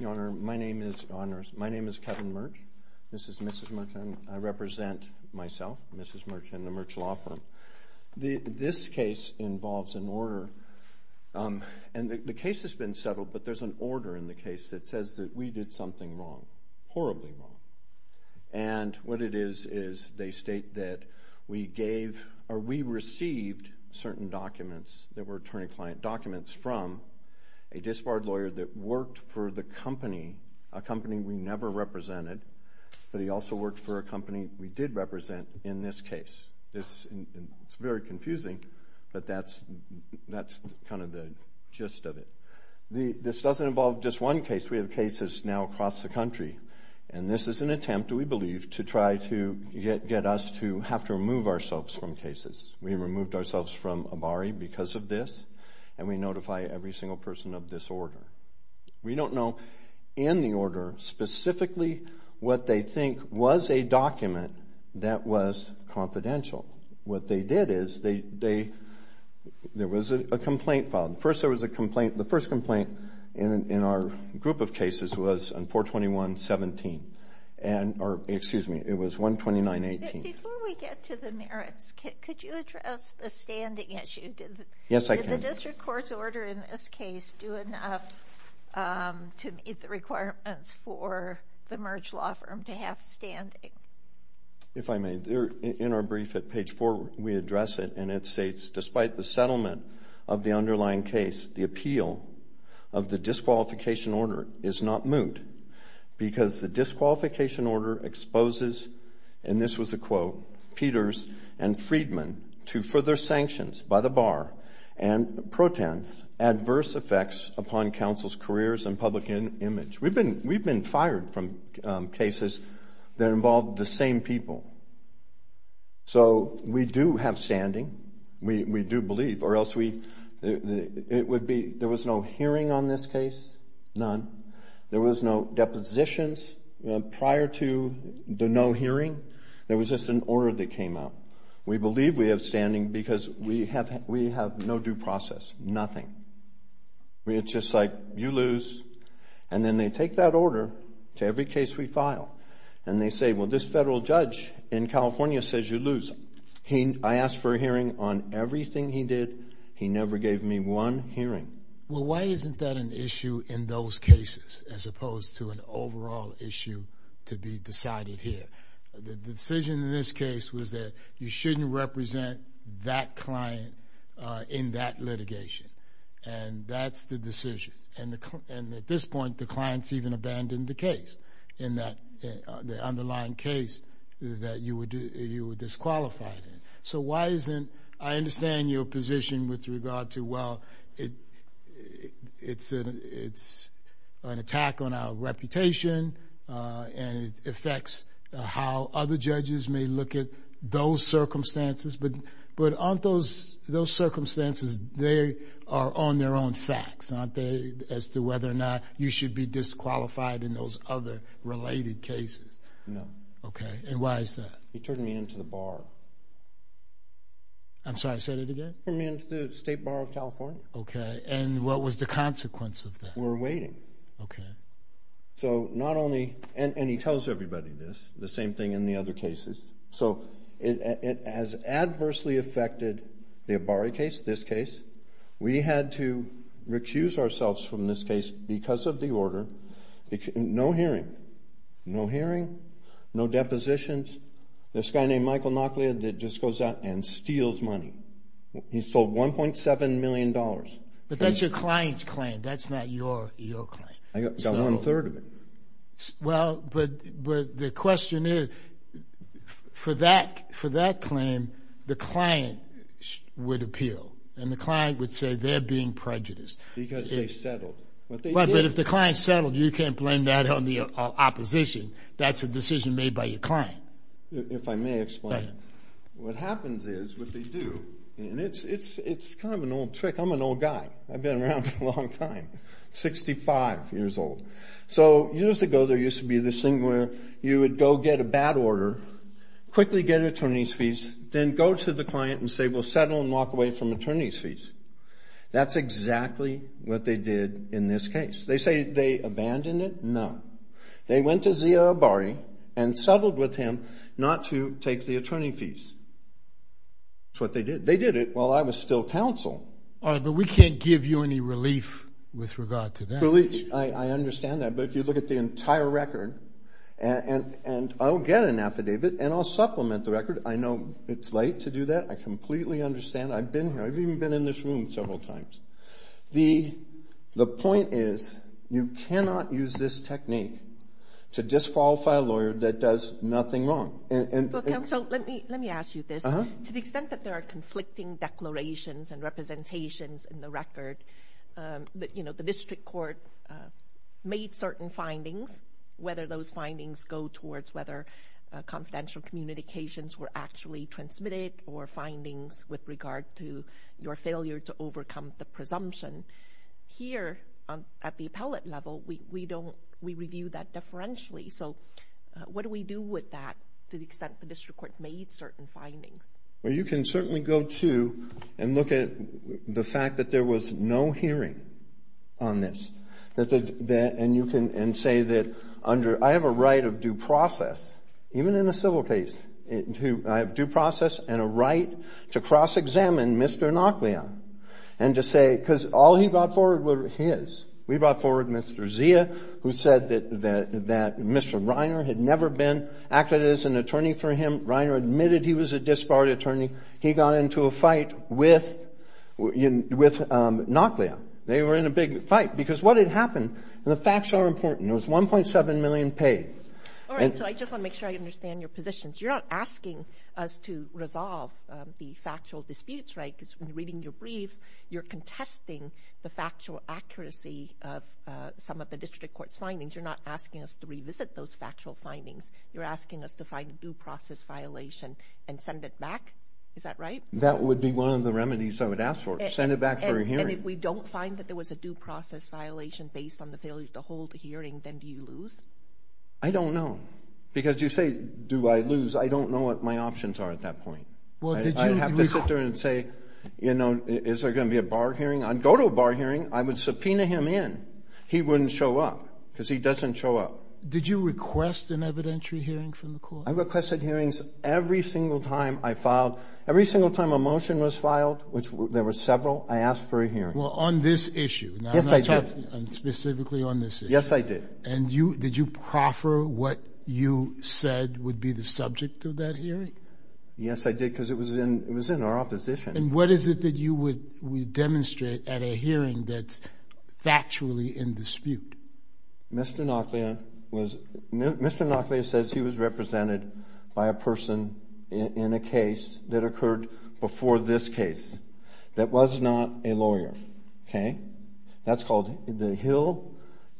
Your Honor, my name is Kevin Merch. This is Mrs. Merch, and I represent myself, Mrs. Merch, and the Merch Law Firm. This case involves an order, and the case has been settled, but there's an order in the case that says that we did something wrong, horribly wrong, and what it is is they state that we gave or we received certain documents that were attorney-client documents from a disbarred lawyer that worked for the company, a company we never represented, but he also worked for a company we did represent in this case. It's very confusing, but that's kind of the gist of it. This doesn't involve just one case. We have cases now across the country, and this is an attempt, we believe, to try to get us to have to remove ourselves from cases. We removed ourselves from ABARI because of this, and we notify every single person of this order. We don't know, in the order, specifically what they think was a document that was confidential. What they did is, there was a complaint filed. First, there was a complaint. The first complaint in our group of cases was on 421-17, or excuse me, it was 129-18. Before we get to the merits, could you address the standing issue? Yes, I can. Did the district court's order in this case do enough to meet the requirements for the Merge law firm to have standing? If I may, in our brief at page 4, we address it, and it states, despite the settlement of the underlying case, the appeal of the disqualification order is not moot because the counsel, Peters and Friedman, to further sanctions by the bar and protests adverse effects upon counsel's careers and public image. We've been fired from cases that involve the same people. So we do have standing. We do believe, or else we, it would be, there was no hearing on this case, none. There was no order that came up. We believe we have standing because we have no due process, nothing. It's just like, you lose, and then they take that order to every case we file, and they say, well, this federal judge in California says you lose. I asked for a hearing on everything he did. He never gave me one hearing. Well, why isn't that an issue in those cases, as opposed to an overall issue to be decided here? The decision in this case was that you shouldn't represent that client in that litigation, and that's the decision. And at this point, the client's even abandoned the case, the underlying case that you were disqualified in. So why isn't, I understand your position with regard to, well, it's an attack on our reputation, and it affects how other judges may look at those circumstances. But aren't those circumstances, they are on their own facts, aren't they, as to whether or not you should be disqualified in those other related cases? No. Okay. And why is that? You turned me into the bar. I'm sorry, say that again? You turned me into the State Bar of California. Okay. And what was the consequence of that? We're waiting. Okay. So not only, and he tells everybody this, the same thing in the other cases. So it has adversely affected the Abari case, this case. We had to recuse ourselves from this case because of the order. No hearing. No hearing. No depositions. This guy named Michael Nauclea that just goes out and steals money. He sold $1.7 million. But that's your client's claim. That's not your claim. I got one third of it. Well, but the question is, for that claim, the client would appeal, and the client would say they're being prejudiced. Because they settled. But if the client settled, you can't blend that in the opposition. That's a decision made by your client. If I may explain, what happens is, what they do, and it's kind of an old trick. I'm an old guy. I've been around a long time. 65 years old. So years ago, there used to be this thing where you would go get a bad order, quickly get an attorney's fees, then go to the client and say, we'll settle and walk away from attorney's fees. That's exactly what they did in this case. They say they abandoned it. No. They went to Zia Abari and settled with him not to take the attorney fees. That's what they did. They did it while I was still counsel. But we can't give you any relief with regard to that. Relief, I understand that. But if you look at the entire record, and I'll get an affidavit, and I'll supplement the record. I know it's late to do that. I completely understand. I've been here. I've even been in this room several times. The point is, you cannot use this technique to disqualify a lawyer that does nothing wrong. Well, counsel, let me ask you this. To the extent that there are conflicting declarations and representations in the record, the district court made certain findings. Whether those findings go towards whether confidential communications were actually transmitted or findings with regard to your failure to overcome the presumption. Here, at the appellate level, we review that differentially. So what do we do with that to the extent the district court made certain findings? Well, you can certainly go to and look at the fact that there was no hearing on this. And you can say that under, I have a right of due process, even in a civil case, I have due process and a right to cross-examine Mr. Noclia. And to say, because all he brought forward were his. We brought forward Mr. Zia, who said that Mr. Reiner had never been acted as an attorney for him. Reiner admitted he was a disbarred attorney. He got into a fight with Noclia. They were in a big fight. Because what had happened, and the facts are important, it was $1.7 million paid. All right. So I just want to make sure I understand your positions. You're not asking us to resolve the factual disputes, right? Because when you're reading your briefs, you're contesting the factual accuracy of some of the district court's findings. You're not asking us to revisit those factual findings. You're asking us to find a due process violation and send it back. Is that right? That would be one of the remedies I would ask for. Send it back for a hearing. And if we don't find that there was a due process violation based on the failure to file a hearing, then do you lose? I don't know. Because you say, do I lose? I don't know what my options are at that point. I'd have to sit there and say, you know, is there going to be a bar hearing? I'd go to a bar hearing. I would subpoena him in. He wouldn't show up because he doesn't show up. Did you request an evidentiary hearing from the court? I requested hearings every single time I filed. Every single time a motion was filed, which there were several, I asked for a hearing. Well, on this issue. Yes, I did. Specifically on this issue. Yes, I did. And did you proffer what you said would be the subject of that hearing? Yes, I did, because it was in our opposition. And what is it that you would demonstrate at a hearing that's factually in dispute? Mr. Noclea says he was represented by a person in a case that occurred before this case that was not a lawyer. Okay? That's called the Hill,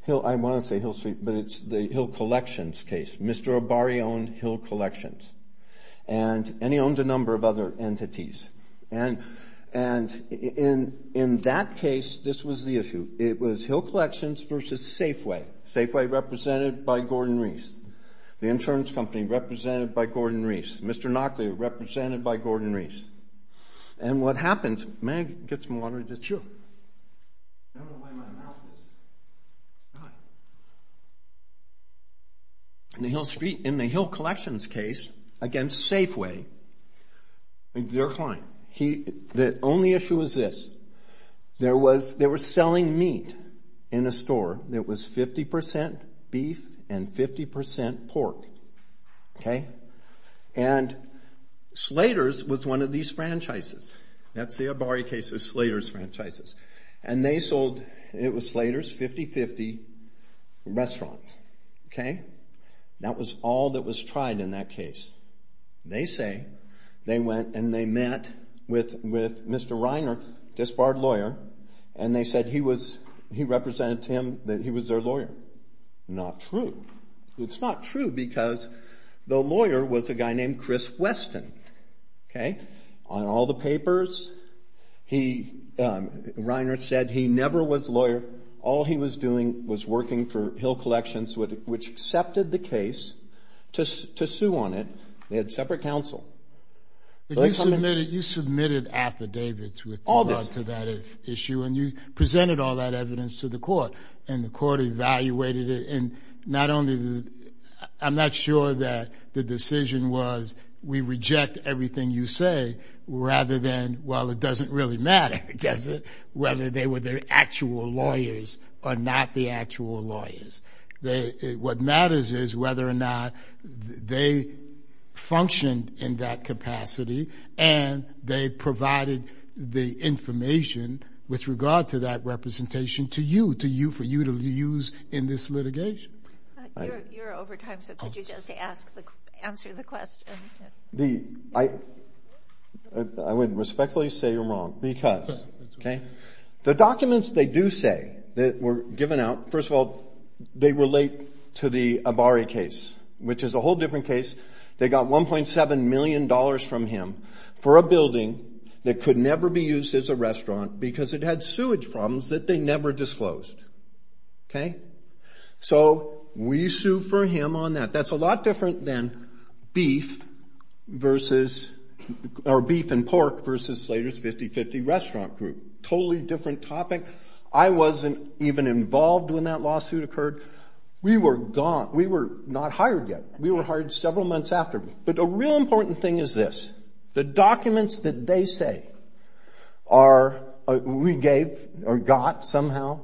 I want to say Hill Street, but it's the Hill Collections case. Mr. Abari owned Hill Collections. And he owned a number of other entities. And in that case, this was the issue. It was Hill Collections versus Safeway. Safeway represented by Gordon Reese. The insurance company represented by Gordon Reese. Mr. Noclea represented by Gordon Reese. And what happened, may I get some water? Sure. I don't know why my mouth is dry. In the Hill Street, in the Hill Collections case against Safeway, their client, the only issue was this. They were selling meat in a store that was 50% beef and 50% pork. Okay? And Slater's was one of these franchises. That's the Abari case's Slater's franchises. And they sold, it was Slater's, 50-50 restaurants. Okay? That was all that was tried in that case. They say they went and they met with their lawyer. Not true. It's not true because the lawyer was a guy named Chris Weston. Okay? On all the papers, Reiner said he never was a lawyer. All he was doing was working for Hill Collections, which accepted the case to sue on it. They had separate counsel. But you submitted affidavits with regard to that issue and you presented all that evidence to the court. And the court evaluated it. And not only, I'm not sure that the decision was, we reject everything you say, rather than, well, it doesn't really matter, does it, whether they were the actual lawyers or not the actual lawyers. What matters is whether or not they functioned in that capacity and they provided the information with regard to that representation to you, for you to use in this litigation. You're over time, so could you just answer the question? I would respectfully say you're wrong because, okay, the documents they do say that were given out, first of all, they relate to the Abari case, which is a whole different case. They got $1.7 million from him for a building that could never be used as a restaurant because it had sewage problems that they never disclosed. Okay? So, we sue for him on that. That's a lot different than beef versus, or beef and pork versus Slater's 50-50 restaurant group. Totally different topic. I wasn't even involved when that lawsuit occurred. We were gone. We were not hired yet. We were hired several months after. But a real important thing is this. The documents that they say are, we gave or got somehow,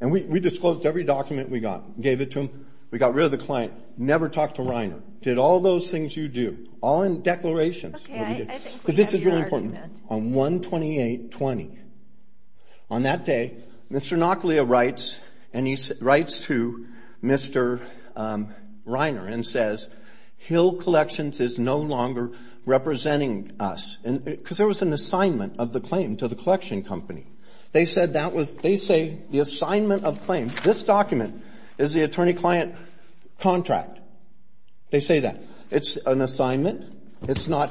and we disclosed every document we got, gave it to them, we got rid of the client, never talked to Reiner, did all those things you do, all in declarations. Okay, I think we have your argument. But this is really important. On 1-28-20, on that day, Mr. Nauclea writes and he writes to Mr. Reiner and says, Hill Collections is no longer representing us. Because there was an assignment of the claim to the collection company. They say the assignment of claim, this document is the attorney-client contract. They say that. It's an assignment. It's not,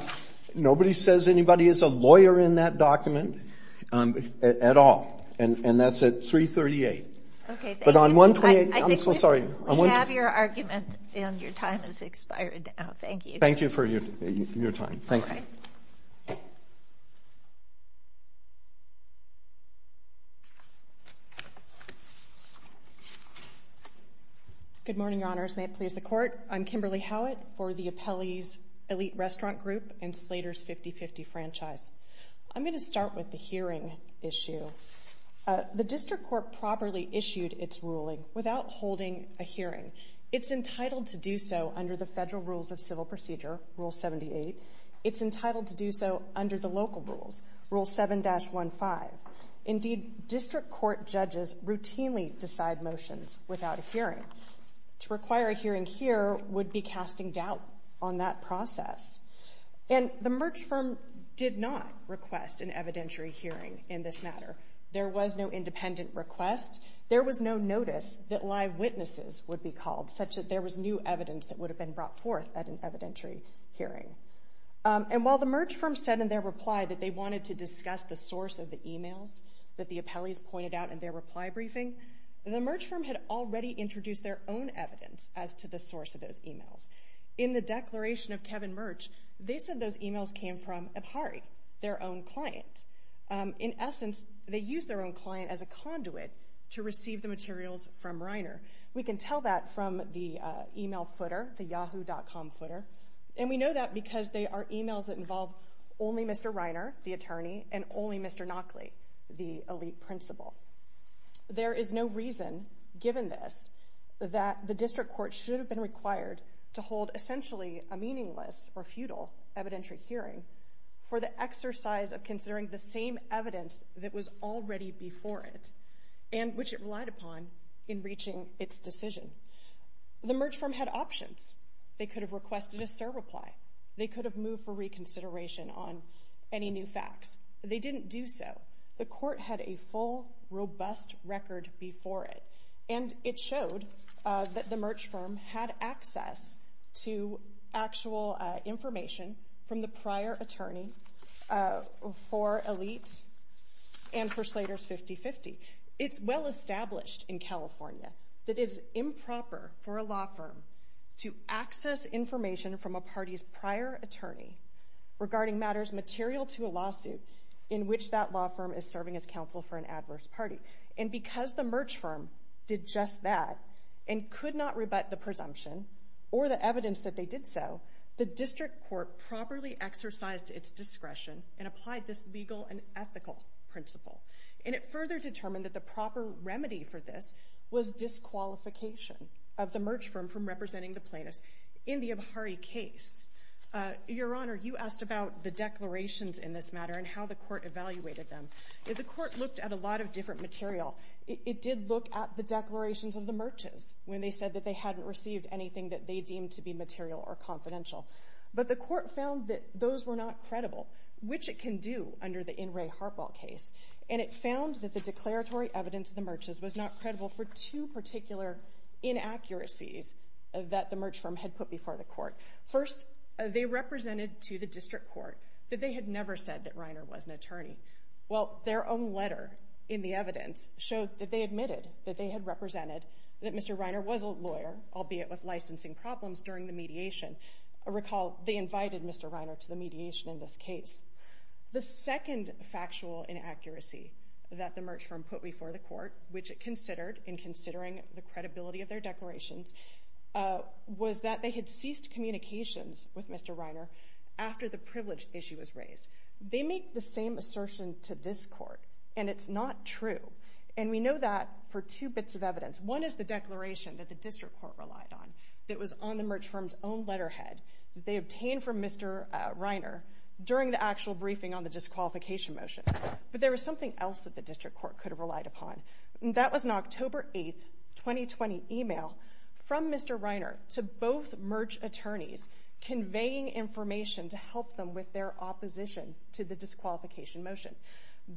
nobody says anybody is a lawyer in that document at all. And that's at 3-38. Okay, thank you. But on 1-28, I'm so sorry. I think we have your argument and your time has expired now. Thank you. Thank you for your time. Thank you. All right. Good morning, Your Honors. May it please the Court? I'm Kimberly Howitt for the Appellee's Elite Restaurant Group and Slater's 50-50 Franchise. I'm going to start with the hearing issue. The district court properly issued its ruling without holding a hearing. It's entitled to do so under the Federal Rules of Civil Procedure, Rule 78. It's entitled to do so under the local rules, Rule 7-15. Indeed, district court judges routinely decide motions without a hearing. To require a hearing here would be casting doubt on that process. And the Merch firm did not request an evidentiary hearing in this matter. There was no independent request. There was no notice that live witnesses would be called, such that there was new evidence that would have been brought forth at an evidentiary hearing. And while the Merch firm said in their reply that they wanted to discuss the source of the emails that the appellees pointed out in their reply briefing, the Merch firm had already introduced their own evidence as to the source of those emails. In the declaration of Kevin Merch, they said those emails came from Abhari, their own client. In essence, they used their own client as a conduit to receive the materials from Reiner. We can tell that from the email footer, the yahoo.com footer. And we know that because they are emails that involve only Mr. Reiner, the attorney, and only Mr. Nockley, the elite principal. There is no reason, given this, that the district court should have been required to hold essentially a meaningless or futile evidentiary hearing for the exercise of considering the same evidence that was already before it, and which it relied upon in reaching its decision. The Merch firm had options. They could have requested a CER reply. They could have moved for reconsideration on any new facts. They didn't do so. The court had a full, robust record before it, and it showed that the Merch firm had access to actual information from the prior attorney for elite and for Slater's 50-50. It's well established in California that it is improper for a law firm to access information from a party's prior attorney regarding matters material to a lawsuit in which that law firm is serving as counsel for an adverse party. And because the Merch firm did just that and could not rebut the presumption or the evidence that they did so, the district court properly exercised its discretion and applied this legal and ethical principle. And it further determined that the proper remedy for this was disqualification of the Merch firm from representing the plaintiffs in the Abhari case. Your Honor, you asked about the declarations in this matter and how the court evaluated them. The court looked at a lot of different material. It did look at the declarations of the Merches when they said that they hadn't received anything that they deemed to be material or confidential. But the court found that those were not credible, which it can do under the In re Harpo case. And it found that the declaratory evidence of the Merches was not credible for two particular inaccuracies that the Merch firm had put before the court. First, they represented to the district court that they had never said that Reiner was an abuser. Well, their own letter in the evidence showed that they admitted that they had represented that Mr. Reiner was a lawyer, albeit with licensing problems during the mediation. Recall, they invited Mr. Reiner to the mediation in this case. The second factual inaccuracy that the Merch firm put before the court, which it considered in considering the credibility of their declarations, was that they had ceased communications with Mr. Reiner after the privilege issue was raised. They make the same assertion to this court, and it's not true. And we know that for two bits of evidence. One is the declaration that the district court relied on that was on the Merch firm's own letterhead that they obtained from Mr. Reiner during the actual briefing on the disqualification motion. But there was something else that the district court could have relied upon. That was an October 8, 2020, email from Mr. Reiner's Merch attorneys, conveying information to help them with their opposition to the disqualification motion.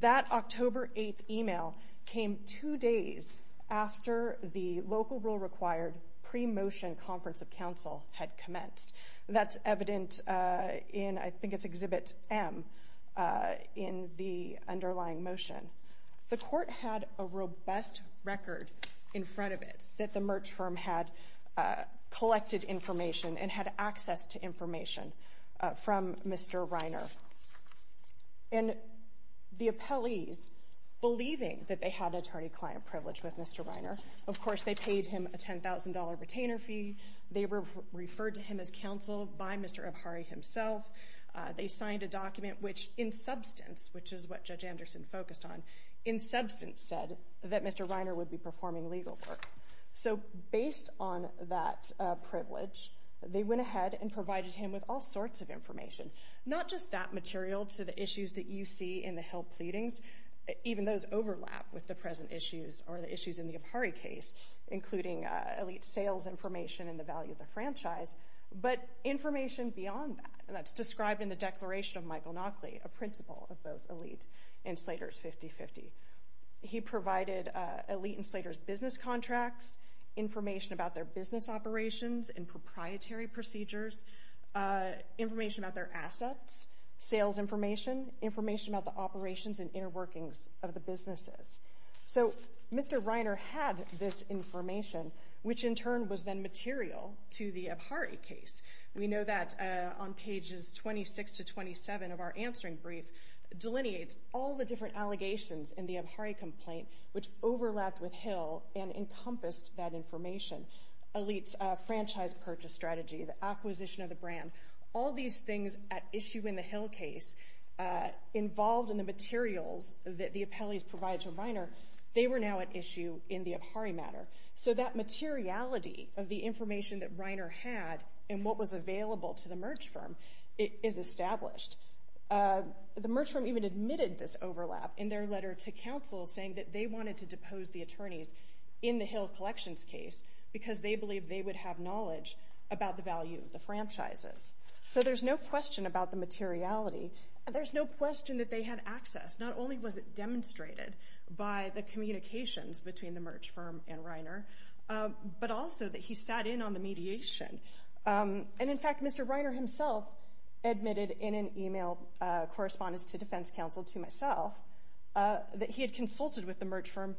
That October 8 email came two days after the local rule required pre-motion conference of counsel had commenced. That's evident in, I think it's Exhibit M, in the underlying motion. The court had a robust record in front of it that the Merch firm had collected information and had access to information from Mr. Reiner. And the appellees, believing that they had an attorney-client privilege with Mr. Reiner, of course they paid him a $10,000 retainer fee. They were referred to him as counsel by Mr. Abhari himself. They signed a document which, in substance, which is what Judge Anderson focused on, in fact, based on that privilege, they went ahead and provided him with all sorts of information. Not just that material to the issues that you see in the Hill pleadings, even those overlap with the present issues or the issues in the Abhari case, including elite sales information and the value of the franchise, but information beyond that. And that's described in the Declaration of Michael Naukle, a principle of both elite and Slater's 50-50. He provided elite and Slater's business contracts, information about their business operations and proprietary procedures, information about their assets, sales information, information about the operations and inner workings of the businesses. So Mr. Reiner had this information, which in turn was then material to the Abhari case. We know that on pages 26 to 27 of our publications in the Abhari complaint, which overlapped with Hill and encompassed that information, elite's franchise purchase strategy, the acquisition of the brand, all these things at issue in the Hill case, involved in the materials that the appellees provided to Reiner, they were now at issue in the Abhari matter. So that materiality of the information that Reiner had and what was available to the merge firm is established. The merge firm even admitted this overlap in their letter to counsel saying that they wanted to depose the attorneys in the Hill collections case because they believed they would have knowledge about the value of the franchises. So there's no question about the materiality. There's no question that they had access. Not only was it demonstrated by the communications between the merge firm and Reiner, but also that he sat in on the mediation. And in fact, Mr. Reiner himself admitted in an email correspondence to defense counsel, to myself, that he had consulted with the merge firm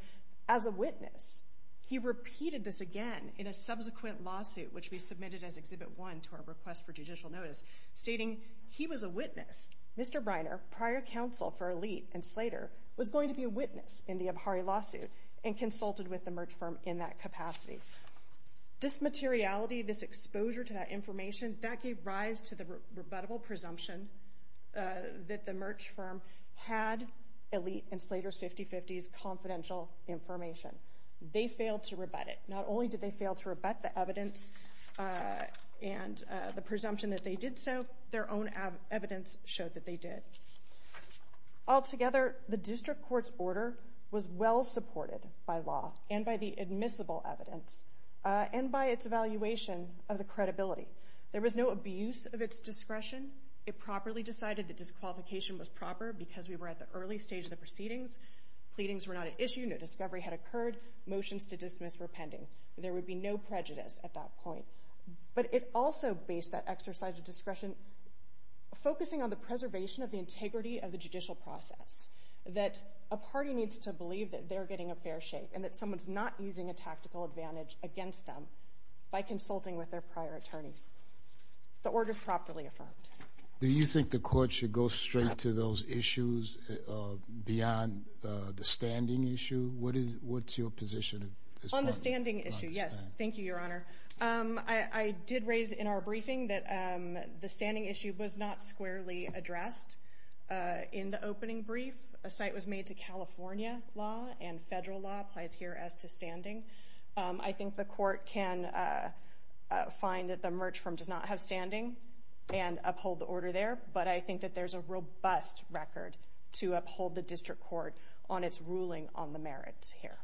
as a witness. He repeated this again in a subsequent lawsuit, which we submitted as Exhibit 1 to our request for judicial notice, stating he was a witness. Mr. Reiner, prior counsel for elite and Slater, was going to be a witness in the Abhari lawsuit and consulted with the merge firm in that capacity. This materiality, this exposure to that rebuttable presumption that the merge firm had elite and Slater's 50-50s confidential information. They failed to rebut it. Not only did they fail to rebut the evidence and the presumption that they did so, their own evidence showed that they did. Altogether, the district court's order was well supported by law and by the admissible evidence and by its evaluation of the credibility. There was no abuse of its discretion. It properly decided that disqualification was proper because we were at the early stage of the proceedings. Pleadings were not an issue. No discovery had occurred. Motions to dismiss were pending. There would be no prejudice at that point. But it also based that exercise of discretion focusing on the preservation of the integrity of the judicial process, that a party needs to believe that they're getting a fair shake and that someone's not using a tactical advantage against them by consulting with their prior attorneys. The order's properly affirmed. Do you think the court should go straight to those issues beyond the standing issue? What's your position? On the standing issue, yes. Thank you, Your Honor. I did raise in our briefing that the federal law applies here as to standing. I think the court can find that the merge firm does not have standing and uphold the order there, but I think that there's a robust record to uphold the district court on its ruling on the merits here.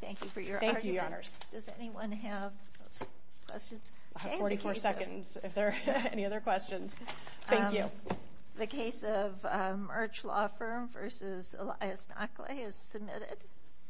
Thank you for your argument. Does anyone have questions? I have 44 seconds if there are any other questions. Thank you. The case of Arch Law Firm v. Elias Nakle has submitted.